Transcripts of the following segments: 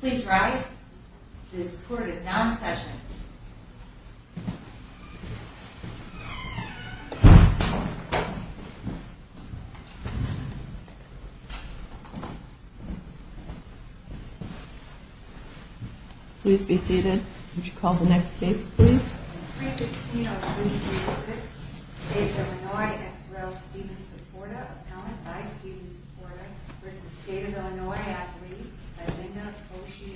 Please rise. This court is now in session. Please be seated. Would you call the next case please? In 315-0336, State of Illinois ex rel. Stephen Saporta, appellant by Stephen Saporta v. State of Illinois athlete, Melinda Koshy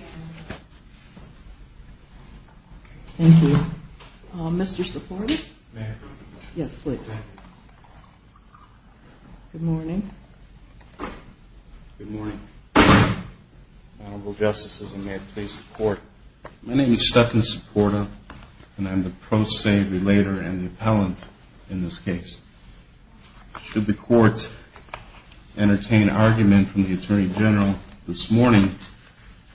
Anderson. Thank you. Mr. Saporta? May I come in? Yes, please. Thank you. Good morning. Good morning. Honorable Justices, and may it please the Court, my name is Stephen Saporta, and I'm the pro se relator and the appellant in this case. Should the Court entertain argument from the Attorney General this morning,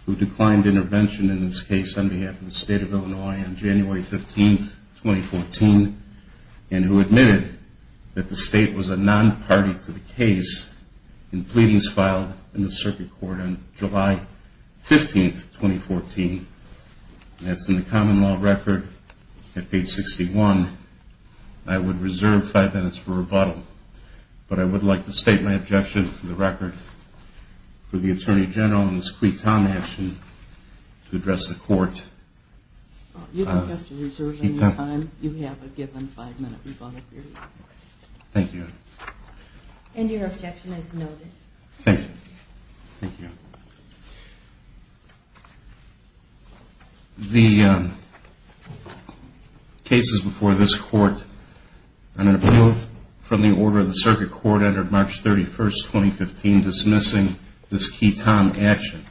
who declined intervention in this case on behalf of the State of Illinois on January 15, 2014, and who admitted that the State was a non-party to the case in pleadings filed in the Circuit Court on July 15, 2014, as in the common law record at page 61, I would reserve five minutes for rebuttal. But I would like to state my objection for the record for the Attorney General in this quiton action to address the Court. You don't have to reserve any time. You have a given five minute rebuttal period. Thank you. And your objection is noted. Thank you. The cases before this Court are an appeal from the order of the Circuit Court entered March 31, 2015, dismissing this quiton action.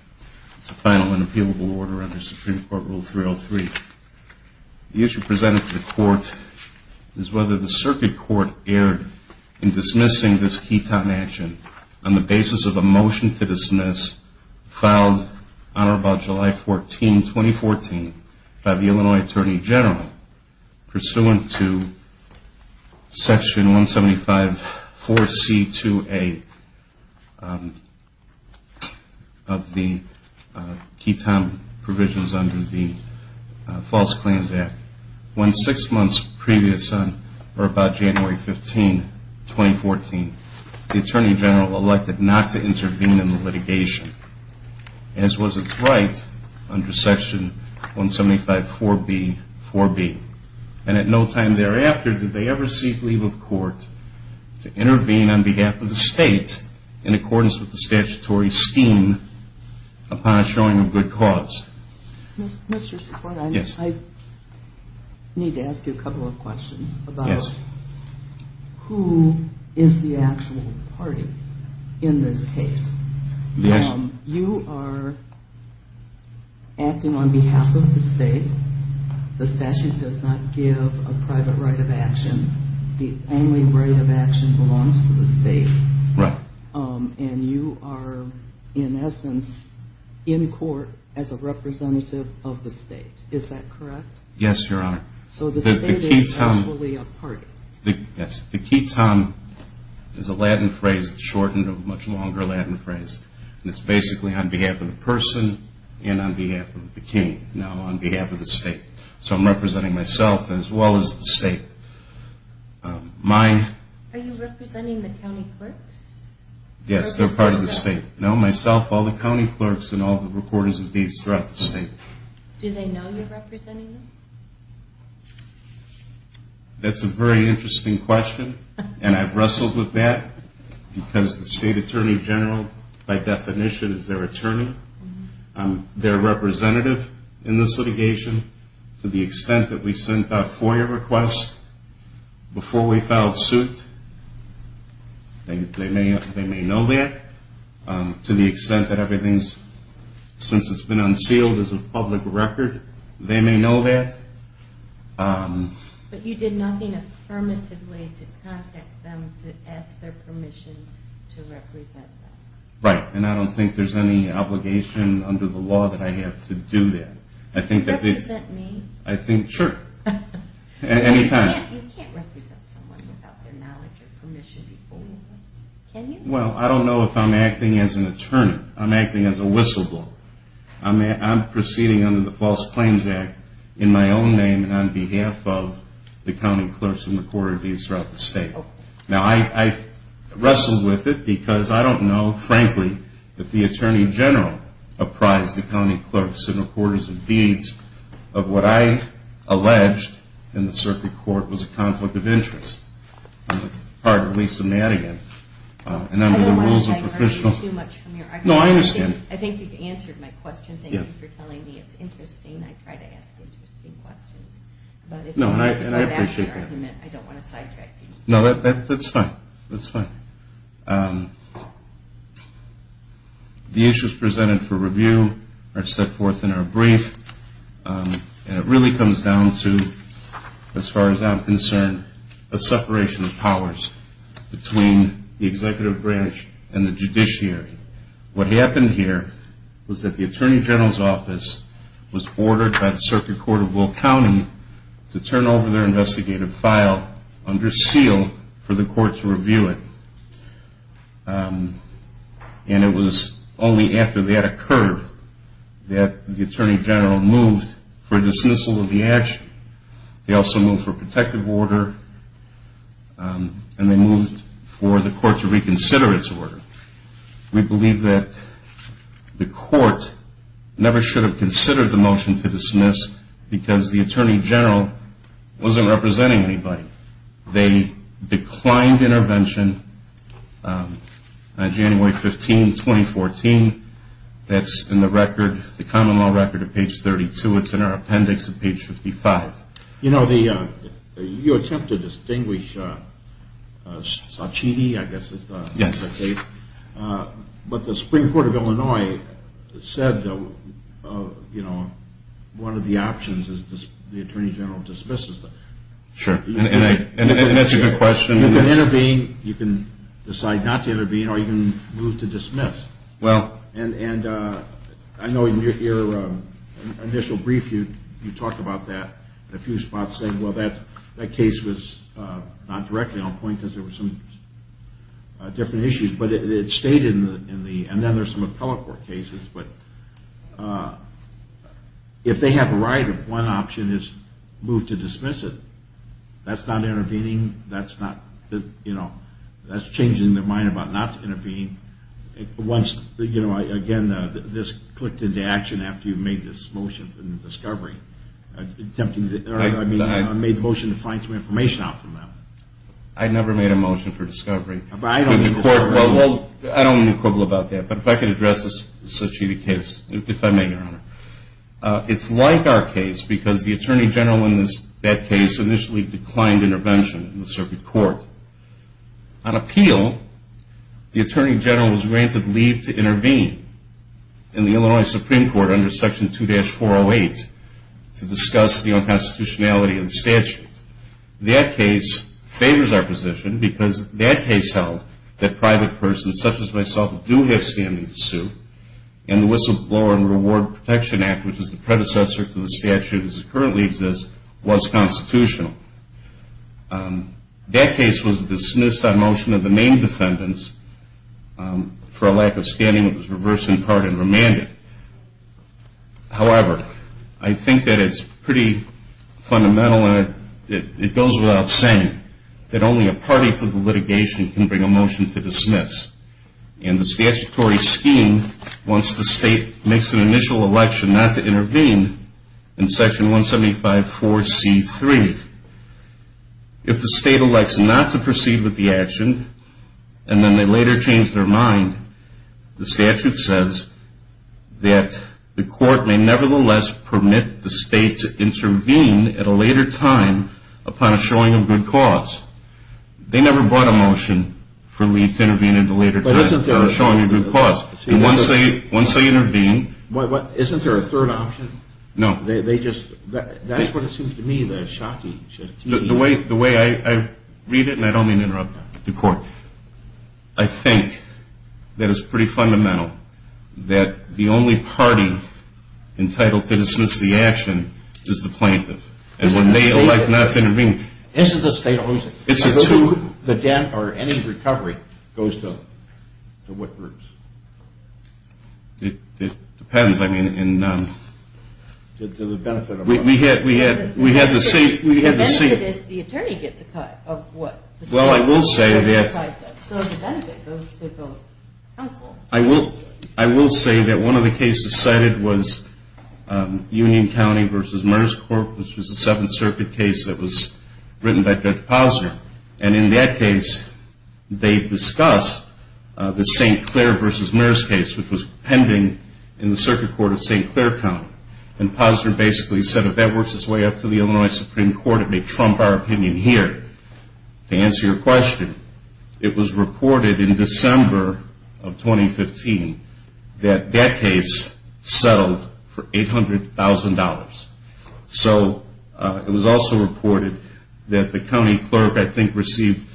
It's a final and appealable order under Supreme Court Rule 303. The issue presented to the Court is whether the Circuit Court erred in dismissing this quiton action on the basis of a motion to dismiss filed on or about July 14, 2014, by the Illinois Attorney General, pursuant to Section 175-4C-2A of the Quiton Provisions under the False Claims Act. When six months previous on or about January 15, 2014, the Attorney General elected not to intervene in the litigation, as was its right under Section 175-4B-4B. And at no time thereafter did they ever seek leave of court to intervene on behalf of the State in accordance with the statutory scheme upon a showing of good cause. Mr. Secretary, I need to ask you a couple of questions about who is the actual party in this case. You are acting on behalf of the State. The statute does not give a private right of action. The only right of action belongs to the State. Right. And you are, in essence, in court as a representative of the State. Is that correct? Yes, Your Honor. So the State is actually a party. Yes. The quiton is a Latin phrase shortened to a much longer Latin phrase. And it's basically on behalf of the person and on behalf of the King, now on behalf of the State. So I'm representing myself as well as the State. Are you representing the county clerks? Yes, they're part of the State. No, myself, all the county clerks and all the reporters of these throughout the State. Do they know you're representing them? That's a very interesting question, and I've wrestled with that because the State Attorney General, by definition, is their attorney. They're representative in this litigation. To the extent that we sent out FOIA requests before we filed suit, they may know that. To the extent that everything's, since it's been unsealed as a public record, they may know that. But you did nothing affirmatively to contact them to ask their permission to represent them. Right, and I don't think there's any obligation under the law that I have to do that. Do you represent me? I think, sure, any time. You can't represent someone without their knowledge or permission, can you? Well, I don't know if I'm acting as an attorney. I'm acting as a whistleblower. I'm proceeding under the False Claims Act in my own name and on behalf of the county clerks and the reporters throughout the State. Now, I wrestled with it because I don't know, frankly, that the Attorney General apprised the county clerks and reporters of deeds of what I alleged in the circuit court was a conflict of interest. I'm a part of Lisa Madigan, and under the rules of professional. I don't want to take too much from your argument. No, I understand. I think you've answered my question. Thank you for telling me. It's interesting. I try to ask interesting questions. No, and I appreciate that. No, that's fine. That's fine. The issues presented for review are set forth in our brief, and it really comes down to, as far as I'm concerned, a separation of powers between the executive branch and the judiciary. What happened here was that the Attorney General's office was ordered by the circuit court of Will County to turn over their investigative file under seal for the court to review it. And it was only after that occurred that the Attorney General moved for dismissal of the action. They also moved for protective order, and they moved for the court to reconsider its order. We believe that the court never should have considered the motion to dismiss because the Attorney General wasn't representing anybody. They declined intervention on January 15, 2014. That's in the record, the common law record at page 32. It's in our appendix at page 55. You know, you attempt to distinguish Saatchi, I guess is the case. Yes. But the Supreme Court of Illinois said, you know, one of the options is the Attorney General dismisses them. Sure, and that's a good question. You can intervene, you can decide not to intervene, or you can move to dismiss. And I know in your initial brief you talked about that in a few spots, saying, well, that case was not directly on point because there were some different issues, but it stayed in the—and then there's some appellate court cases. But if they have the right, one option is move to dismiss it. That's not intervening. That's changing their mind about not intervening. Once, you know, again, this clicked into action after you made this motion for discovery. I mean, you made the motion to find some information out from them. I never made a motion for discovery. Well, I don't want to quibble about that. But if I could address the Saatchi case, if I may, Your Honor. It's like our case because the Attorney General in that case initially declined intervention in the circuit court. On appeal, the Attorney General was granted leave to intervene in the Illinois Supreme Court under Section 2-408 to discuss the unconstitutionality of the statute. That case favors our position because that case held that private persons such as myself do have standing to sue, and the Whistleblower and Reward Protection Act, which is the predecessor to the statute as it currently exists, was constitutional. That case was dismissed on motion of the main defendants for a lack of standing. It was reversed in part and remanded. However, I think that it's pretty fundamental, and it goes without saying, that only a party to the litigation can bring a motion to dismiss. And the statutory scheme wants the state makes an initial election not to intervene in Section 175-4C-3. If the state elects not to proceed with the action, and then they later change their mind, the statute says that the court may nevertheless permit the state to intervene at a later time upon a showing of good cause. They never brought a motion for leave to intervene at a later time for a showing of good cause. Once they intervene... Isn't there a third option? No. That's what it seems to me the shocking... The way I read it, and I don't mean to interrupt the court, I think that it's pretty fundamental that the only party entitled to dismiss the action is the plaintiff. And when they elect not to intervene... Isn't the state... It's a two. The dent or any recovery goes to what groups? It depends. I mean, in... To the benefit of... We had to see... The benefit is the attorney gets a cut of what... Well, I will say that... So the benefit goes to both counsel... I will say that one of the cases cited was Union County v. Merriscorp, which was a Seventh Circuit case that was written by Judge Posner. And in that case, they discussed the St. Clair v. Merriscorp case, which was pending in the Circuit Court of St. Clair County. And Posner basically said, if that works its way up to the Illinois Supreme Court, it may trump our opinion here. To answer your question, it was reported in December of 2015 that that case settled for $800,000. So it was also reported that the county clerk, I think, received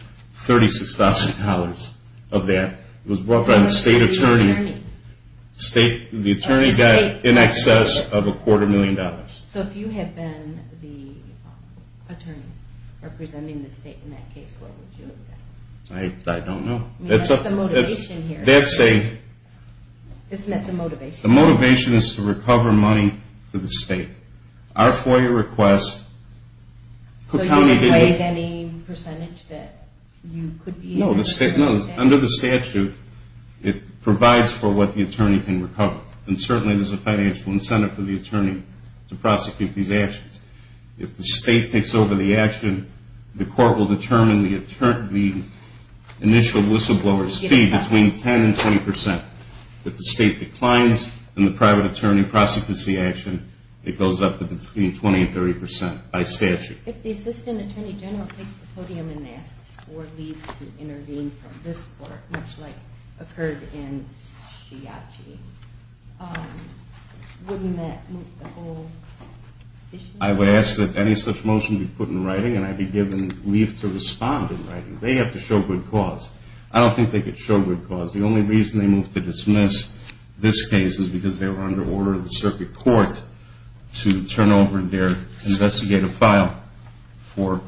$36,000 of that. It was brought by the state attorney. The attorney got in excess of a quarter million dollars. So if you had been the attorney representing the state in that case, what would you have done? I don't know. What's the motivation here? That's a... Isn't that the motivation? The motivation is to recover money for the state. Our FOIA request... So you didn't take any percentage that you could be... No, under the statute, it provides for what the attorney can recover. And certainly, there's a financial incentive for the attorney to prosecute these actions. If the state takes over the action, the court will determine the initial whistleblower's fee between 10% and 20%. If the state declines in the private attorney prosecution action, it goes up to between 20% and 30% by statute. If the assistant attorney general takes the podium and asks for leave to intervene from this court, much like occurred in Chiachi, wouldn't that move the whole issue? I would ask that any such motion be put in writing, and I'd be given leave to respond in writing. They have to show good cause. I don't think they could show good cause. The only reason they moved to dismiss this case is because they were under order of the circuit court to turn over their investigative file for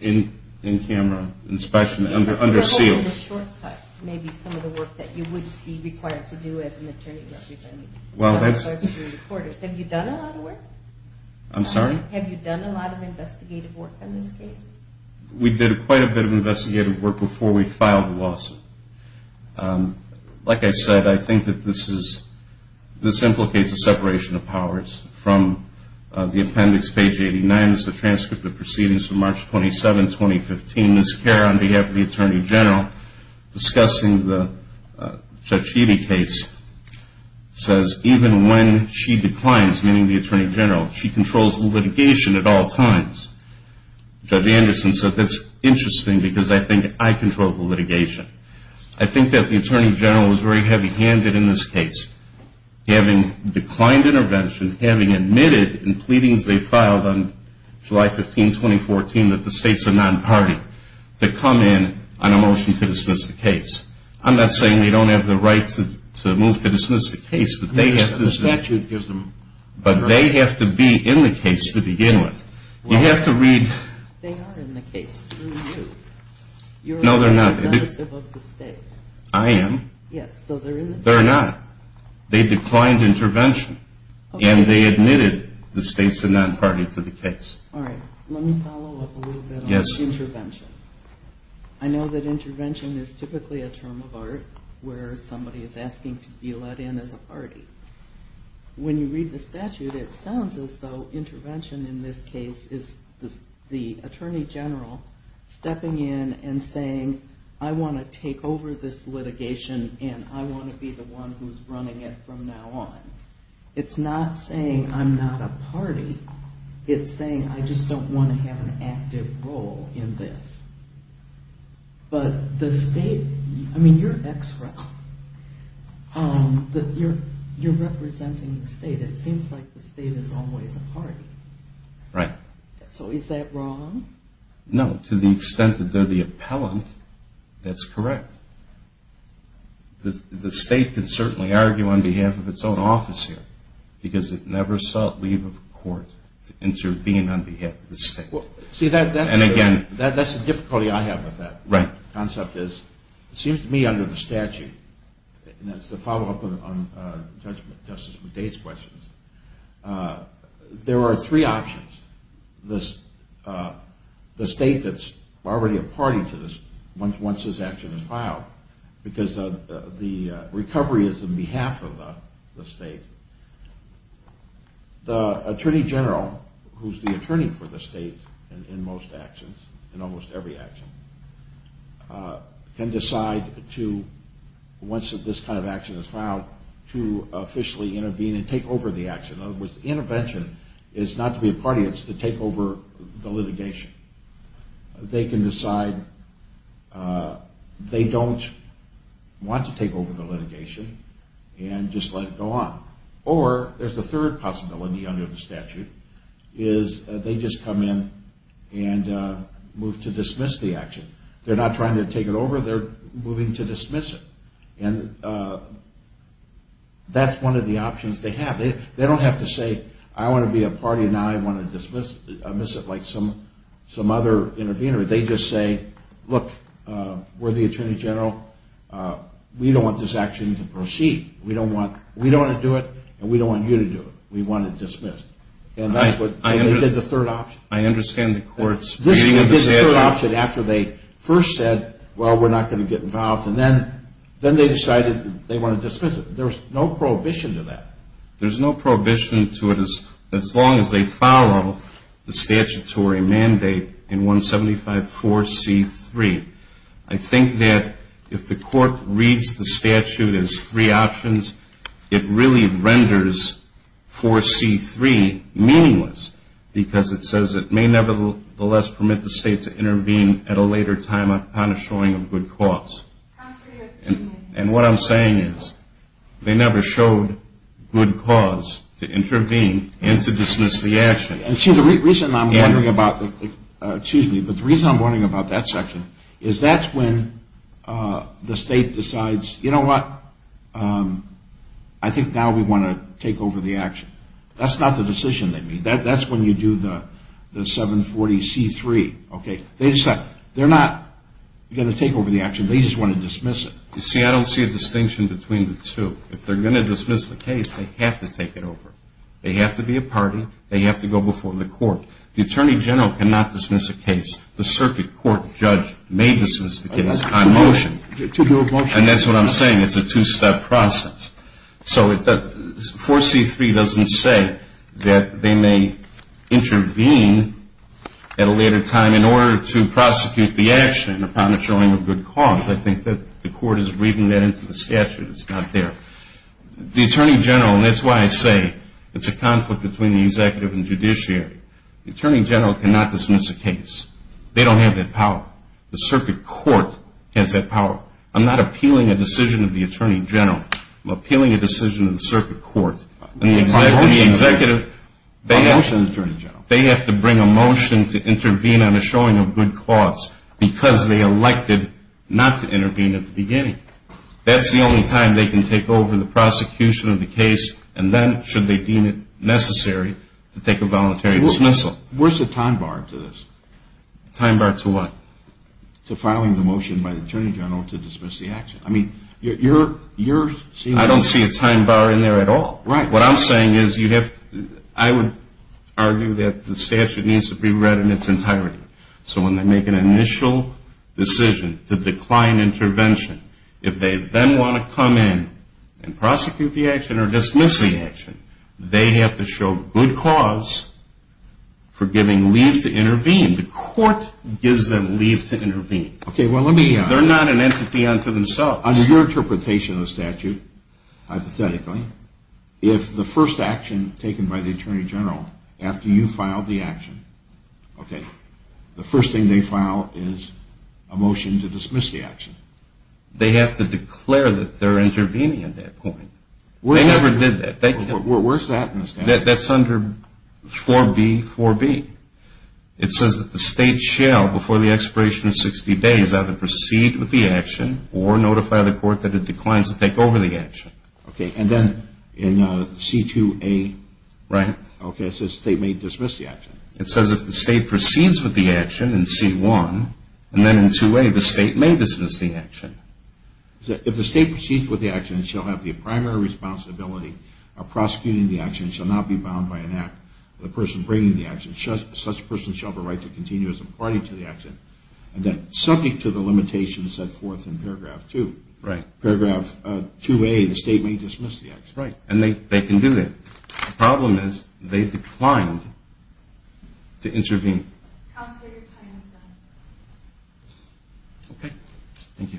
in-camera inspection under seal. Maybe some of the work that you would be required to do as an attorney representing the court. Have you done a lot of work? I'm sorry? Have you done a lot of investigative work on this case? We did quite a bit of investigative work before we filed the lawsuit. Like I said, I think that this implicates a separation of powers. From the appendix, page 89, is the transcript of proceedings from March 27, 2015. Ms. Kerr, on behalf of the attorney general, discussing the Judge Healy case, says even when she declines, meaning the attorney general, she controls the litigation at all times. Judge Anderson said that's interesting because I think I control the litigation. I think that the attorney general was very heavy-handed in this case, having declined intervention, having admitted in pleadings they filed on July 15, 2014, that the states are non-party, to come in on a motion to dismiss the case. I'm not saying they don't have the right to move to dismiss the case, but they have to. The statute gives them the right. But they have to be in the case to begin with. You have to read... They are in the case through you. No, they're not. You're representative of the state. I am. Yes, so they're in the case. They're not. They declined intervention, and they admitted the states are non-party to the case. All right. Let me follow up a little bit on intervention. I know that intervention is typically a term of art where somebody is asking to be let in as a party. When you read the statute, it sounds as though intervention in this case is the attorney general stepping in and saying, I want to take over this litigation, and I want to be the one who's running it from now on. It's not saying I'm not a party. It's saying I just don't want to have an active role in this. But the state... I mean, you're an ex-rep. You're representing the state. It seems like the state is always a party. Right. So is that wrong? No, to the extent that they're the appellant, that's correct. The state can certainly argue on behalf of its own office here, because it never sought leave of court to intervene on behalf of the state. See, that's the difficulty I have with that. Right. The concept is, it seems to me under the statute, and that's the follow-up on Justice McDade's questions, there are three options. The state that's already a party to this once this action is filed, because the recovery is on behalf of the state. The attorney general, who's the attorney for the state in most actions, in almost every action, can decide to, once this kind of action is filed, to officially intervene and take over the action. In other words, intervention is not to be a party. It's to take over the litigation. They can decide they don't want to take over the litigation and just let it go on. Or there's a third possibility under the statute, is they just come in and move to dismiss the action. They're not trying to take it over. They're moving to dismiss it. And that's one of the options they have. They don't have to say, I want to be a party now. I want to dismiss it like some other intervener. They just say, look, we're the attorney general. We don't want this action to proceed. We don't want to do it, and we don't want you to do it. We want it dismissed. And that's what they did the third option. I understand the court's reading of the statute. This is the third option after they first said, well, we're not going to get involved. And then they decided they want to dismiss it. There's no prohibition to that. There's no prohibition to it as long as they follow the statutory mandate in 175-4C-3. I think that if the court reads the statute as three options, it really renders 4C-3 meaningless, because it says it may nevertheless permit the state to intervene at a later time upon a showing of good cause. And what I'm saying is they never showed good cause to intervene and to dismiss the action. See, the reason I'm wondering about that section is that's when the state decides, you know what, I think now we want to take over the action. That's not the decision they made. That's when you do the 740-C-3. Okay, they decide they're not going to take over the action. They just want to dismiss it. You see, I don't see a distinction between the two. If they're going to dismiss the case, they have to take it over. They have to be a party. They have to go before the court. The attorney general cannot dismiss a case. The circuit court judge may dismiss the case on motion. And that's what I'm saying. It's a two-step process. So 4C-3 doesn't say that they may intervene at a later time in order to prosecute the action upon a showing of good cause. I think that the court is reading that into the statute. It's not there. The attorney general, and that's why I say it's a conflict between the executive and judiciary, the attorney general cannot dismiss a case. They don't have that power. The circuit court has that power. I'm not appealing a decision of the attorney general. I'm appealing a decision of the circuit court. The executive, they have to bring a motion to intervene on a showing of good cause because they elected not to intervene at the beginning. That's the only time they can take over the prosecution of the case, and then should they deem it necessary to take a voluntary dismissal. Where's the time bar to this? Time bar to what? To filing the motion by the attorney general to dismiss the action. I don't see a time bar in there at all. What I'm saying is I would argue that the statute needs to be read in its entirety. So when they make an initial decision to decline intervention, if they then want to come in and prosecute the action or dismiss the action, they have to show good cause for giving leave to intervene. The court gives them leave to intervene. They're not an entity unto themselves. Under your interpretation of the statute, hypothetically, if the first action taken by the attorney general after you file the action, okay, the first thing they file is a motion to dismiss the action. They have to declare that they're intervening at that point. They never did that. Where's that in the statute? That's under 4B4B. It says that the state shall, before the expiration of 60 days, either proceed with the action or notify the court that it declines to take over the action. Okay. And then in C2A? Right. Okay. It says the state may dismiss the action. It says if the state proceeds with the action in C1, and then in 2A the state may dismiss the action. If the state proceeds with the action, it shall have the primary responsibility of prosecuting the action. It shall not be bound by an act of the person bringing the action. Such a person shall have a right to continue as a party to the action. And then subject to the limitations set forth in paragraph 2. Right. Paragraph 2A, the state may dismiss the action. Right. And they can do that. The problem is they declined to intervene. Counselor, your time is up. Okay. Thank you.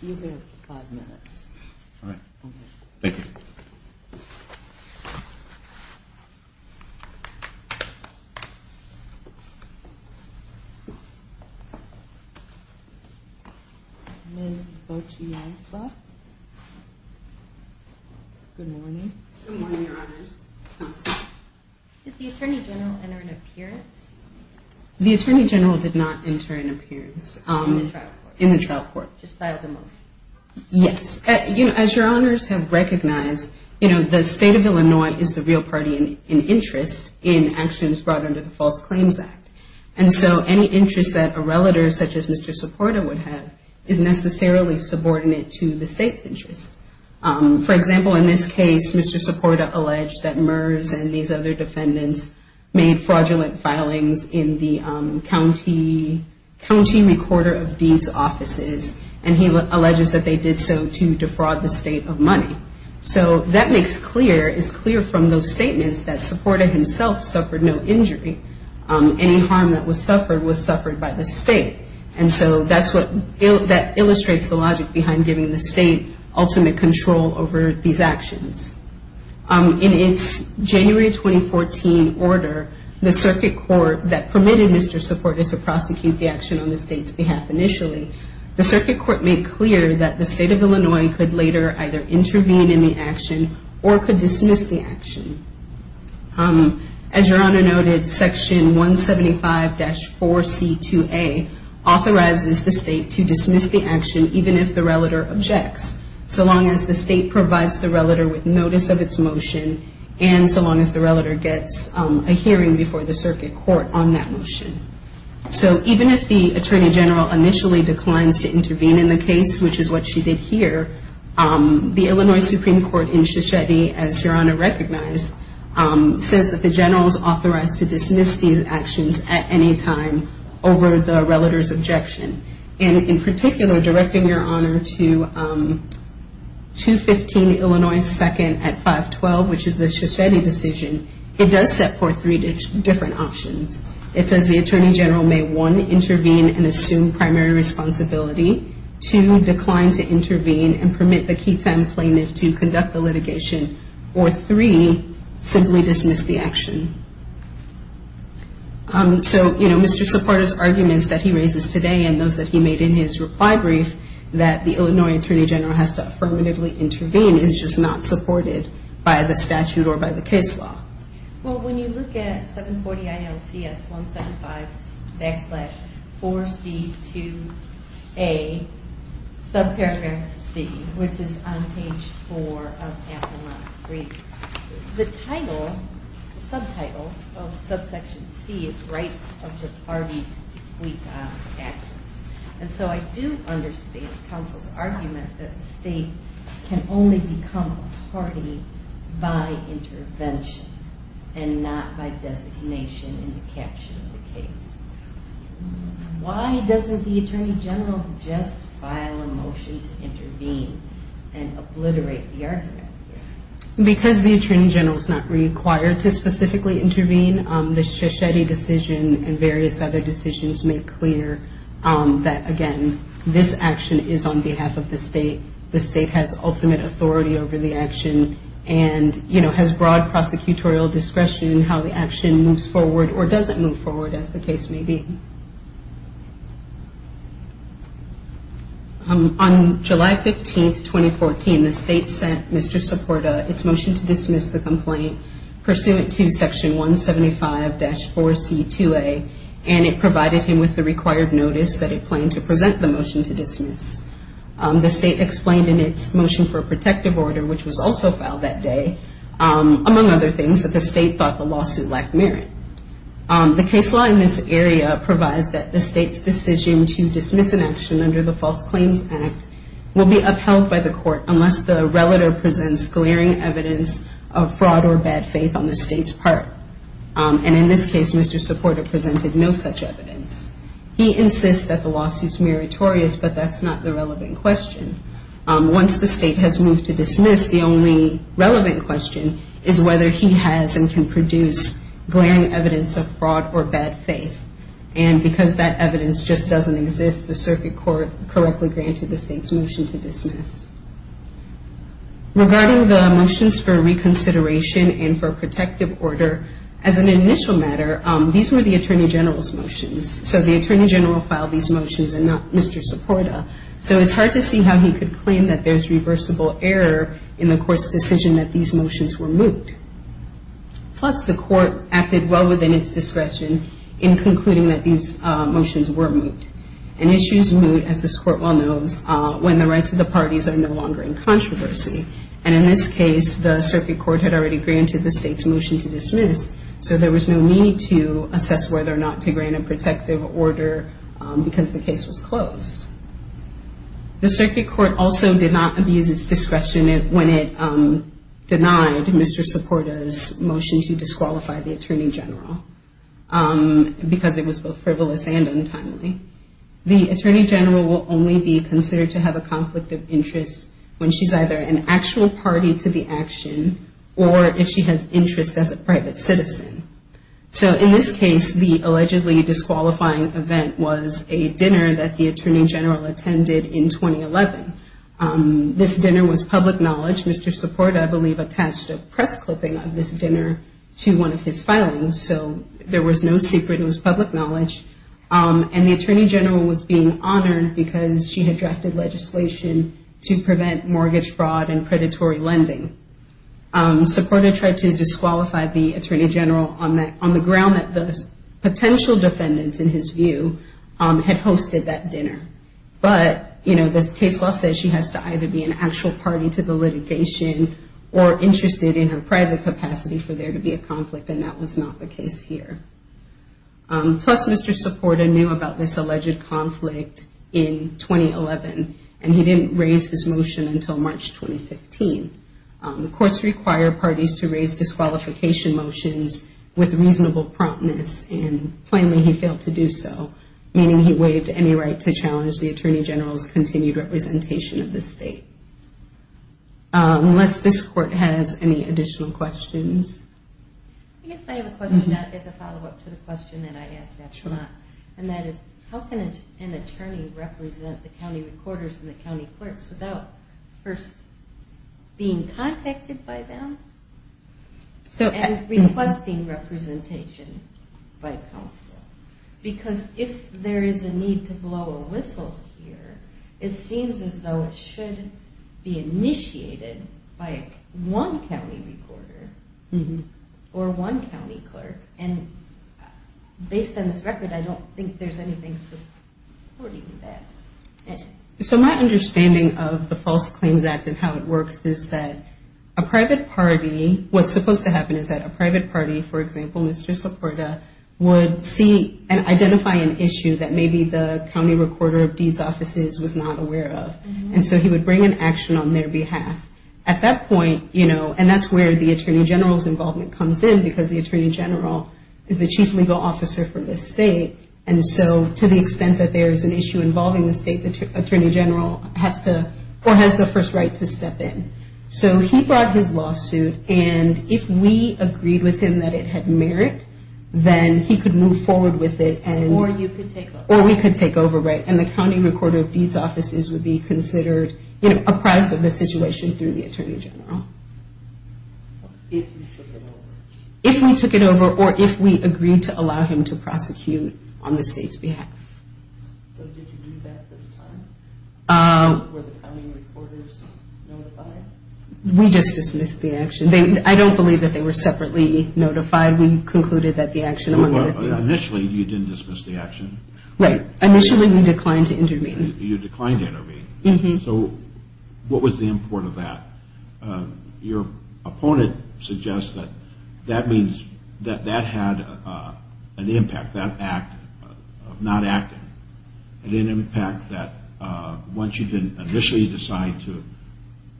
You have five minutes. All right. Thank you. Ms. Botianza? Good morning. Good morning, Your Honors. Counselor? Did the Attorney General enter an appearance? The Attorney General did not enter an appearance. In the trial court? In the trial court. Just filed a motion? Yes. You know, as Your Honors have recognized, you know, the State of Illinois is the real party in interest in actions brought under the False Claims Act. And so any interest that a relative, such as Mr. Soporta, would have is necessarily subordinate to the state's interest. For example, in this case, Mr. Soporta alleged that MERS and these other defendants made fraudulent filings in the county recorder of deeds offices. And he alleges that they did so to defraud the state of money. So that makes clear, is clear from those statements, that Soporta himself suffered no injury. Any harm that was suffered was suffered by the state. And so that's what illustrates the logic behind giving the state ultimate control over these actions. In its January 2014 order, the circuit court that permitted Mr. Soporta to prosecute the action on the circuit court made clear that the State of Illinois could later either intervene in the action or could dismiss the action. As Your Honor noted, Section 175-4C2A authorizes the state to dismiss the action, even if the relative objects. So long as the state provides the relative with notice of its motion, and so long as the relative gets a hearing before the circuit court on that motion. So even if the Attorney General initially declines to intervene in the case, which is what she did here, the Illinois Supreme Court in Shoshetty, as Your Honor recognized, says that the General is authorized to dismiss these actions at any time over the relative's objection. And in particular, directing Your Honor to 215 Illinois 2nd at 512, which is the Shoshetty decision, it does set forth three different options. It says the Attorney General may, one, intervene and assume primary responsibility. Two, decline to intervene and permit the key time plaintiff to conduct the litigation. Or three, simply dismiss the action. So, you know, Mr. Soporta's arguments that he raises today and those that he made in his reply brief that the Illinois Attorney General has to affirmatively intervene is just not supported by the statute or by the case law. Well, when you look at 740 ILCS 175 backslash 4C2A subparagraph C, which is on page four of Appelmont's brief, the title, the subtitle of subsection C, is Rights of the Parties Defeated on Actions. And so I do understand counsel's argument that the state can only become a and not by designation in the caption of the case. Why doesn't the Attorney General just file a motion to intervene and obliterate the argument? Because the Attorney General is not required to specifically intervene, the Shoshetty decision and various other decisions make clear that, again, this action is on behalf of the state. The state has ultimate authority over the action and, you know, has broad prosecutorial discretion in how the action moves forward or doesn't move forward, as the case may be. On July 15, 2014, the state sent Mr. Soporta its motion to dismiss the complaint, pursuant to Section 175-4C2A, and it provided him with the required notice that it planned to present the motion to dismiss. The state explained in its motion for protective order, which was also filed that day, among other things, that the state thought the lawsuit lacked merit. The case law in this area provides that the state's decision to dismiss an action under the False Claims Act will be upheld by the court unless the relator presents glaring evidence of fraud or bad faith on the state's part. And in this case, Mr. Soporta presented no such evidence. He insists that the lawsuit's meritorious, but that's not the relevant question. Once the state has moved to dismiss, the only relevant question is whether he has and can produce glaring evidence of fraud or bad faith. And because that evidence just doesn't exist, the circuit court correctly granted the state's motion to dismiss. Regarding the motions for reconsideration and for protective order, as an initial matter, these were the attorney general's motions. So the attorney general filed these motions and not Mr. Soporta. So it's hard to see how he could claim that there's reversible error in the court's decision that these motions were moot. Plus, the court acted well within its discretion in concluding that these motions were moot. And issues moot, as this court well knows, when the rights of the parties are no longer in controversy. And in this case, the circuit court had already granted the state's motion to dismiss, so there was no need to assess whether or not to grant a protective order because the case was closed. The circuit court also did not abuse its discretion when it denied Mr. Soporta's motion to disqualify the attorney general because it was both frivolous and untimely. The attorney general will only be considered to have a conflict of interest when she's either an actual party to the action or if she has interest as a private citizen. So in this case, the allegedly disqualifying event was a dinner that the attorney general attended in 2011. This dinner was public knowledge. Mr. Soporta, I believe, attached a press clipping of this dinner to one of his filings, so there was no secret. It was public knowledge. And the attorney general was being honored because she had drafted legislation to prevent mortgage fraud and predatory lending. Soporta tried to disqualify the attorney general on the ground that the potential defendants, in his view, had hosted that dinner. But, you know, the case law says she has to either be an actual party to the litigation or interested in her private capacity for there to be a conflict, and that was not the case here. Plus, Mr. Soporta knew about this alleged conflict in 2011, and he didn't raise his motion until March 2015. The courts require parties to raise disqualification motions with reasonable promptness, and plainly he failed to do so, meaning he waived any right to challenge the attorney general's continued representation of the state. Unless this court has any additional questions. I guess I have a question that is a follow-up to the question that I asked at Chamath, and that is how can an attorney represent the county recorders and the county clerks without first being contacted by them and requesting representation by counsel? Because if there is a need to blow a whistle here, it seems as though it should be initiated by one county recorder or one county clerk. And based on this record, I don't think there's anything supporting that. So my understanding of the False Claims Act and how it works is that a private party, what's supposed to happen is that a private party, for example, Mr. Soporta, would see and identify an issue that maybe the county recorder of deeds offices was not aware of. And so he would bring an action on their behalf. At that point, you know, and that's where the attorney general's involvement comes in, because the attorney general is the chief legal officer for the state, and so to the extent that there is an issue involving the state, the attorney general has to or has the first right to step in. So he brought his lawsuit, and if we agreed with him that it had merit, then he could move forward with it. Or you could take over. Or we could take over, right, and the county recorder of deeds offices would be considered, you know, a product of the situation through the attorney general. If you took it over. If we took it over or if we agreed to allow him to prosecute on the state's behalf. So did you do that this time? Were the county recorders notified? We just dismissed the action. I don't believe that they were separately notified. We concluded that the action among other things. Initially you didn't dismiss the action. Right. Initially we declined to intervene. You declined to intervene. So what was the import of that? Your opponent suggests that that means that that had an impact, that act of not acting. It had an impact that once you didn't initially decide to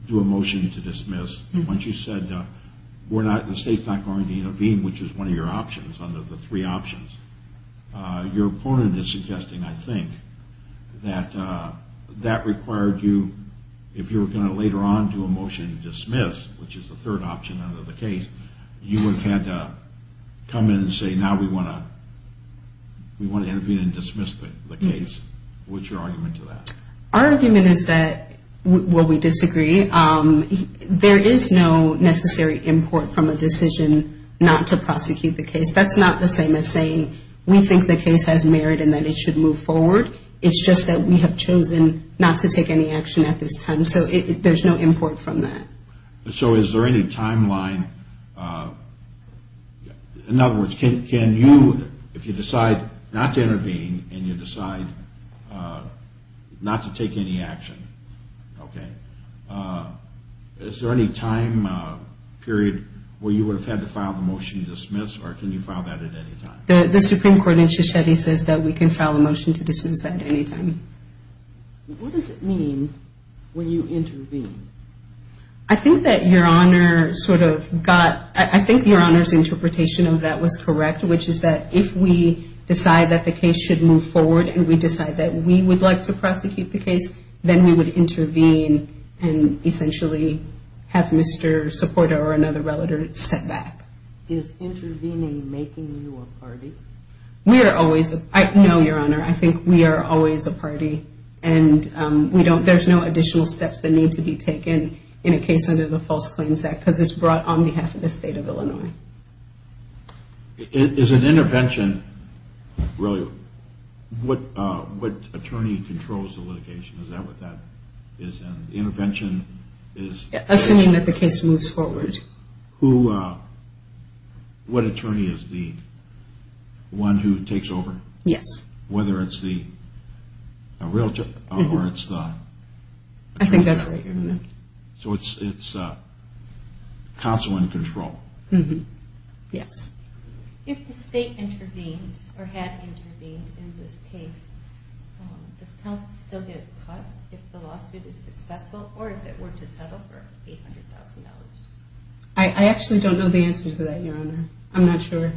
do a motion to dismiss, once you said the state's not going to intervene, which is one of your options, under the three options, your opponent is suggesting, I think, that that required you, if you were going to later on do a motion to dismiss, which is the third option under the case, you would have had to come in and say now we want to intervene and dismiss the case. What's your argument to that? Our argument is that, well, we disagree. There is no necessary import from a decision not to prosecute the case. That's not the same as saying we think the case has merit and that it should move forward. It's just that we have chosen not to take any action at this time. So there's no import from that. So is there any timeline? In other words, can you, if you decide not to intervene and you decide not to take any action, okay, is there any time period where you would have had to file the motion to dismiss or can you file that at any time? The Supreme Court in Shosheti says that we can file a motion to dismiss at any time. What does it mean when you intervene? I think that Your Honor sort of got, I think Your Honor's interpretation of that was correct, which is that if we decide that the case should move forward and we decide that we would like to prosecute the case, then we would intervene and essentially have Mr. Soporta or another relative step back. Is intervening making you a party? We are always, no, Your Honor, I think we are always a party and we don't, there's no additional steps that need to be taken in a case under the False Claims Act because it's brought on behalf of the State of Illinois. Is an intervention, really, what attorney controls the litigation? Is that what that is? The intervention is? Assuming that the case moves forward. Who, what attorney is the one who takes over? Yes. Whether it's the realtor or it's the... I think that's right, Your Honor. So it's counsel in control. Yes. If the state intervenes or had intervened in this case, does counsel still get cut if the lawsuit is successful or if it were to settle for $800,000? I actually don't know the answer to that, Your Honor. I'm not sure.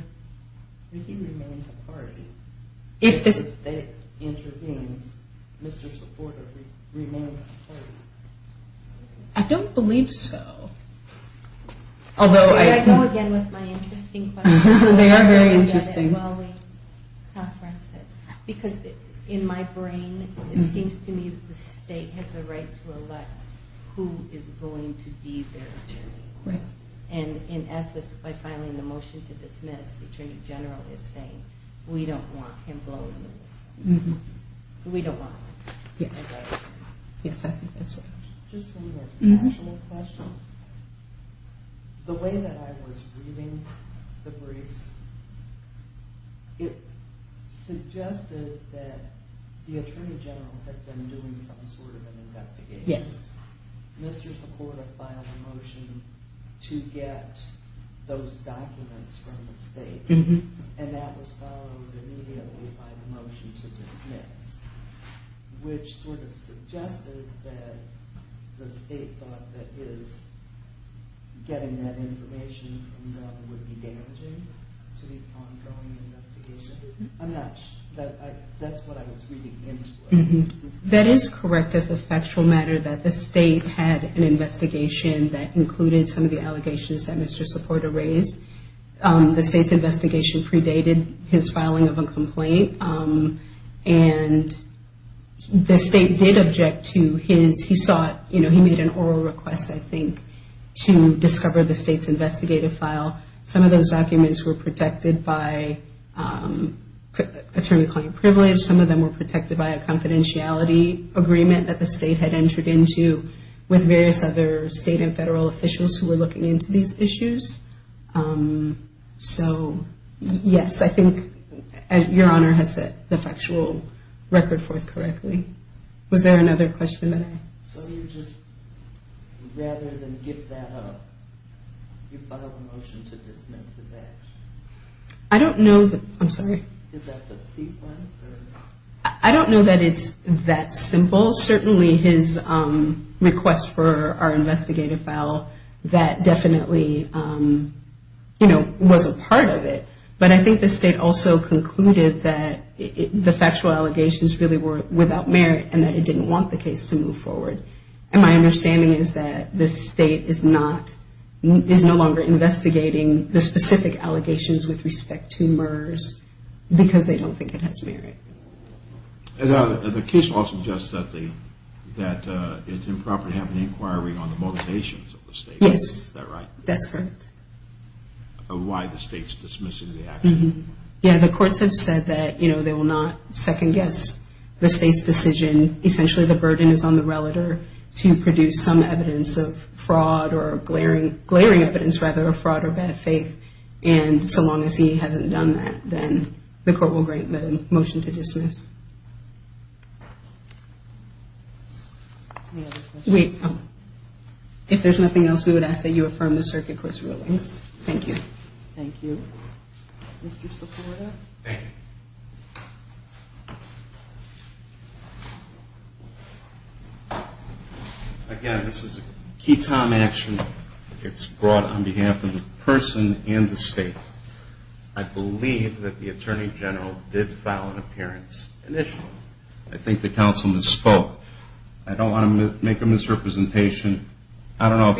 He remains a party. If the state intervenes, Mr. Supporter remains a party. I don't believe so. I go again with my interesting questions. They are very interesting. Because in my brain, it seems to me that the state has the right to elect who is going to be their attorney. And in essence, by filing the motion to dismiss, the Attorney General is saying, we don't want him blowing the whistle. We don't want him. Yes, I think that's right. Just one more factual question. The way that I was reading the briefs, Yes. Mr. Supporter filed a motion to get those documents from the state. And that was followed immediately by the motion to dismiss, which sort of suggested that the state thought that his getting that information from them would be damaging to the ongoing investigation. I'm not sure. That's what I was reading into it. That is correct as a factual matter, that the state had an investigation that included some of the allegations that Mr. Supporter raised. The state's investigation predated his filing of a complaint. And the state did object to his. He made an oral request, I think, to discover the state's investigative file. Some of those documents were protected by attorney-client privilege. Some of them were protected by a confidentiality agreement that the state had entered into with various other state and federal officials who were looking into these issues. So, yes, I think Your Honor has set the factual record forth correctly. Was there another question? So you just, rather than give that up, you filed a motion to dismiss his actions? I don't know. I'm sorry. Is that the sequence? I don't know that it's that simple. Certainly his request for our investigative file, that definitely, you know, was a part of it. But I think the state also concluded that the factual allegations really were without merit and that it didn't want the case to move forward. And my understanding is that the state is not, is no longer investigating the specific allegations with respect to MERS because they don't think it has merit. The case law suggests that it's improper to have an inquiry on the motivations of the state. Yes. Is that right? That's correct. Why the state's dismissing the action? Yeah, the courts have said that, you know, they will not second-guess the state's decision. Essentially the burden is on the relator to produce some evidence of fraud or glaring evidence, rather, of fraud or bad faith. And so long as he hasn't done that, then the court will grant the motion to dismiss. Any other questions? If there's nothing else, we would ask that you affirm the circuit court's rulings. Thank you. Thank you. Mr. Sepulveda? Thank you. Again, this is a key time action. It's brought on behalf of the person and the state. I believe that the Attorney General did file an appearance initially. I think the councilman spoke. I don't want to make a misrepresentation. I don't know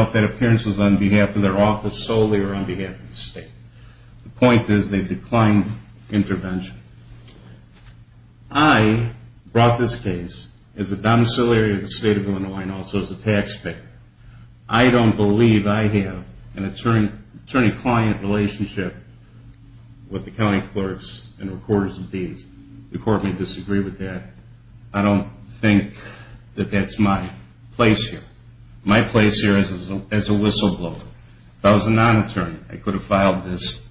if that appearance was on behalf of their office solely or on behalf of the state. The point is they declined intervention. I brought this case as a domiciliary of the state of Illinois and also as a taxpayer. I don't believe I have an attorney-client relationship with the county clerks and recorders of deeds. The court may disagree with that. I don't think that that's my place here. My place here is as a whistleblower. If I was a non-attorney, I could have filed this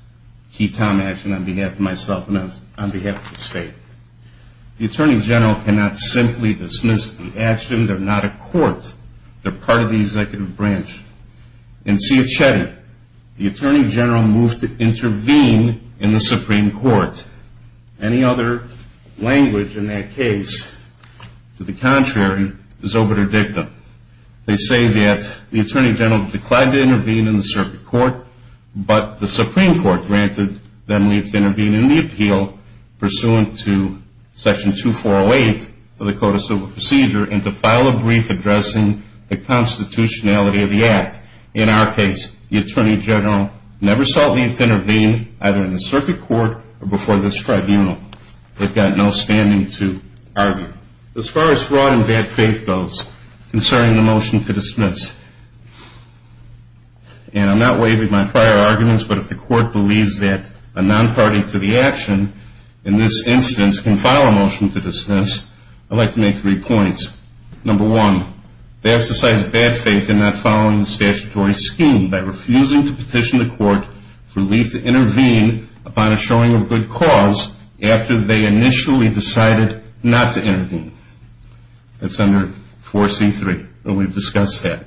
key time action on behalf of myself and on behalf of the state. The Attorney General cannot simply dismiss the action. They're not a court. They're part of the executive branch. In Ciacchetti, the Attorney General moved to intervene in the Supreme Court. Any other language in that case to the contrary is obiter dictum. They say that the Attorney General declined to intervene in the circuit court, but the Supreme Court granted them leave to intervene in the appeal pursuant to Section 2408 of the Code of Civil Procedure and to file a brief addressing the constitutionality of the act. In our case, the Attorney General never sought leave to intervene either in the circuit court or before this tribunal. They've got no standing to argue. As far as fraud and bad faith goes concerning the motion to dismiss, and I'm not waiving my prior arguments, but if the court believes that a non-party to the action in this instance can file a motion to dismiss, I'd like to make three points. Number one, they exercise bad faith in not following the statutory scheme by refusing to petition the court for leave to intervene upon a showing of good cause after they initially decided not to intervene. That's under 4C3, and we've discussed that.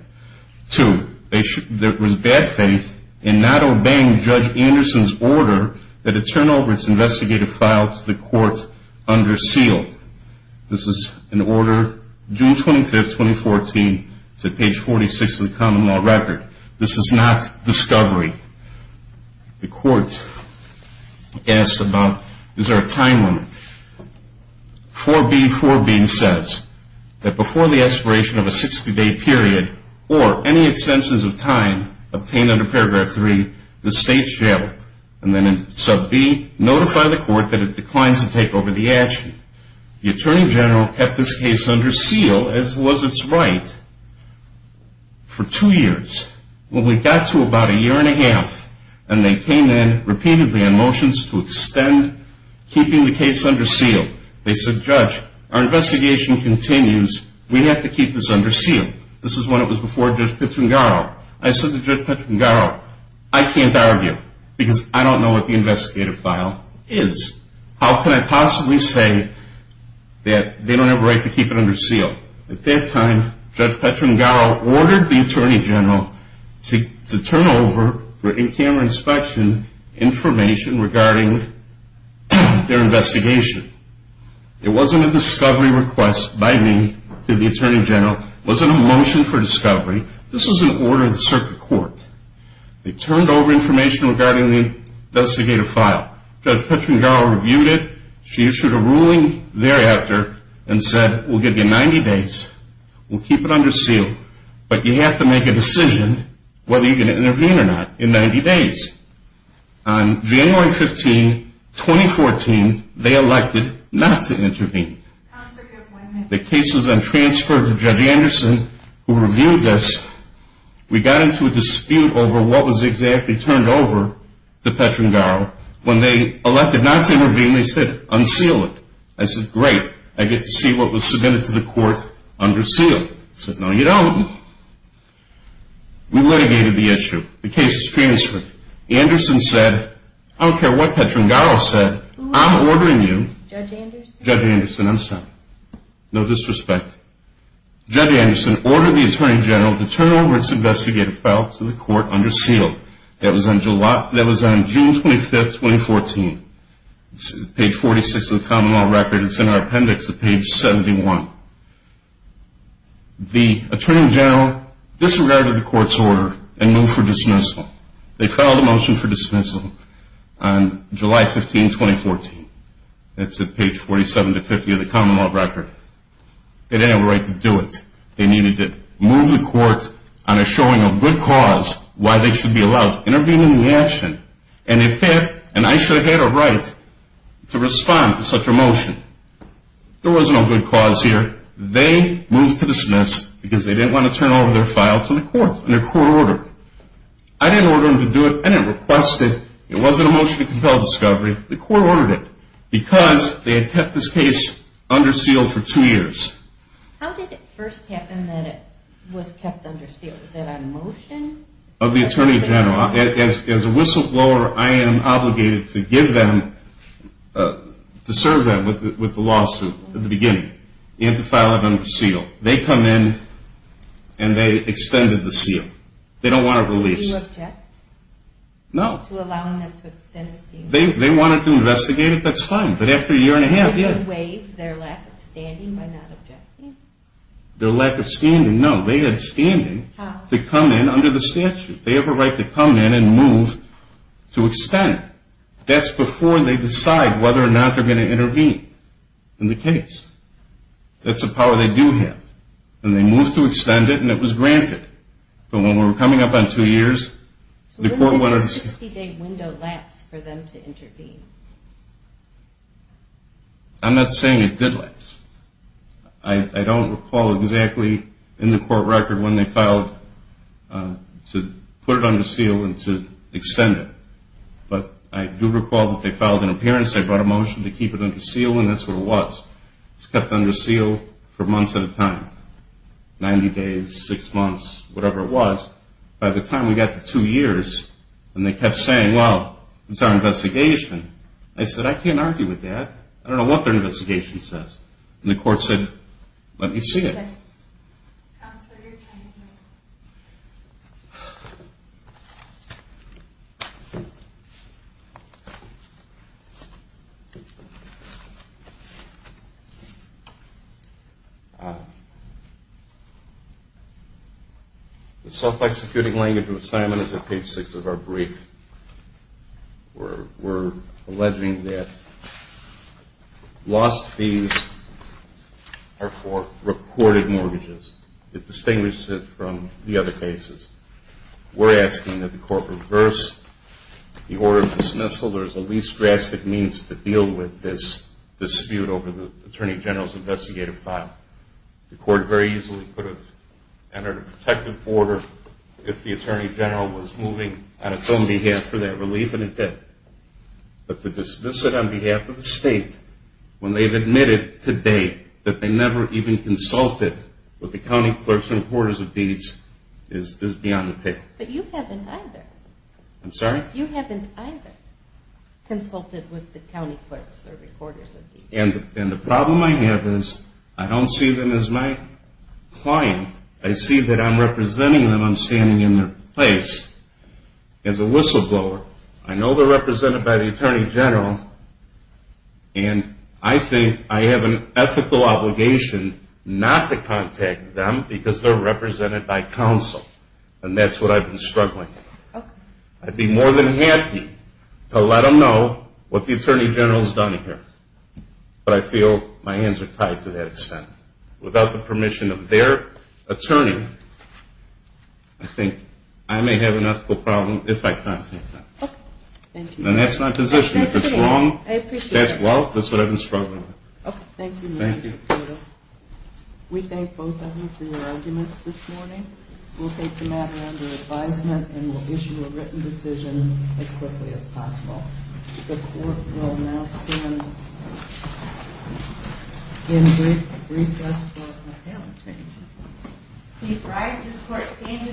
Two, there was bad faith in not obeying Judge Anderson's order that it turn over its investigative files to the court under seal. This was an order June 25, 2014. It's at page 46 of the common law record. This is not discovery. The court asked about is there a time limit. 4B4b says that before the aspiration of a 60-day period or any extensions of time obtained under paragraph 3, the state's jail. And then in sub B, notify the court that it declines to take over the action. The Attorney General kept this case under seal as was its right for two years. When we got to about a year and a half, and they came in repeatedly on motions to extend keeping the case under seal, they said, Judge, our investigation continues. We have to keep this under seal. This is when it was before Judge Petrungaro. I said to Judge Petrungaro, I can't argue because I don't know what the investigative file is. How can I possibly say that they don't have a right to keep it under seal? At that time, Judge Petrungaro ordered the Attorney General to turn over, for in-camera inspection, information regarding their investigation. It wasn't a discovery request by me to the Attorney General. It wasn't a motion for discovery. This was an order to the circuit court. They turned over information regarding the investigative file. Judge Petrungaro reviewed it. She issued a ruling thereafter and said, we'll give you 90 days. We'll keep it under seal, but you have to make a decision whether you're going to intervene or not in 90 days. On January 15, 2014, they elected not to intervene. The case was then transferred to Judge Anderson, who reviewed this. We got into a dispute over what was exactly turned over to Petrungaro. When they elected not to intervene, they said, unseal it. I said, great. I get to see what was submitted to the court under seal. They said, no, you don't. We litigated the issue. The case was transferred. Anderson said, I don't care what Petrungaro said. I'm ordering you. Judge Anderson? Judge Anderson, I'm sorry. No disrespect. Judge Anderson ordered the Attorney General to turn over its investigative file to the court under seal. That was on June 25, 2014. It's page 46 of the common law record. It's in our appendix at page 71. The Attorney General disregarded the court's order and moved for dismissal. They filed a motion for dismissal on July 15, 2014. It's at page 47 to 50 of the common law record. They didn't have a right to do it. They needed to move the court on a showing of good cause why they should be allowed to intervene in the action. And I should have had a right to respond to such a motion. There was no good cause here. They moved to dismiss because they didn't want to turn over their file to the court under court order. I didn't order them to do it. I didn't request it. It wasn't a motion to compel discovery. The court ordered it because they had kept this case under seal for two years. How did it first happen that it was kept under seal? Was that on motion? Of the Attorney General. As a whistleblower, I am obligated to give them, to serve them with the lawsuit at the beginning. You have to file it under seal. They come in and they extended the seal. They don't want it released. Did you object? No. To allowing them to extend the seal? They wanted to investigate it. That's fine. But after a year and a half, yeah. Did they waive their lack of standing by not objecting? Their lack of standing, no. They had standing to come in under the statute. They have a right to come in and move to extend. That's before they decide whether or not they're going to intervene in the case. That's a power they do have. And they moved to extend it and it was granted. But when we were coming up on two years, the court wanted to... I'm not saying it did last. I don't recall exactly in the court record when they filed to put it under seal and to extend it. But I do recall that they filed an appearance. They brought a motion to keep it under seal, and that's what it was. It was kept under seal for months at a time, 90 days, six months, whatever it was. By the time we got to two years and they kept saying, well, it's our investigation, I said, I can't argue with that. I don't know what their investigation says. And the court said, let me see it. The self-executing language of assignment is at page six of our brief. We're alleging that lost fees are for recorded mortgages. It distinguishes it from the other cases. We're asking that the court reverse the order of dismissal. There's a least drastic means to deal with this dispute over the attorney general's investigative file. The court very easily could have entered a protective order if the attorney general was moving on its own behalf for that relief, and it did. But to dismiss it on behalf of the state when they've admitted today that they never even consulted with the county clerks or recorders of deeds is beyond the paper. But you haven't either. I'm sorry? You haven't either consulted with the county clerks or recorders of deeds. And the problem I have is I don't see them as my client. I see that I'm representing them, I'm standing in their place. As a whistleblower, I know they're represented by the attorney general, and I think I have an ethical obligation not to contact them because they're represented by counsel. And that's what I've been struggling with. I'd be more than happy to let them know what the attorney general's done here. But I feel my hands are tied to that extent. Without the permission of their attorney, I think I may have an ethical problem if I contact them. Okay. Thank you. And that's my position. I appreciate it. If it's wrong, that's well, that's what I've been struggling with. Okay. Thank you. Thank you. We thank both of you for your arguments this morning. We'll take the matter under advisement and we'll issue a written decision as quickly as possible. The court will now stand in recess for a comment. Thank you. Please rise. This court stands in recess.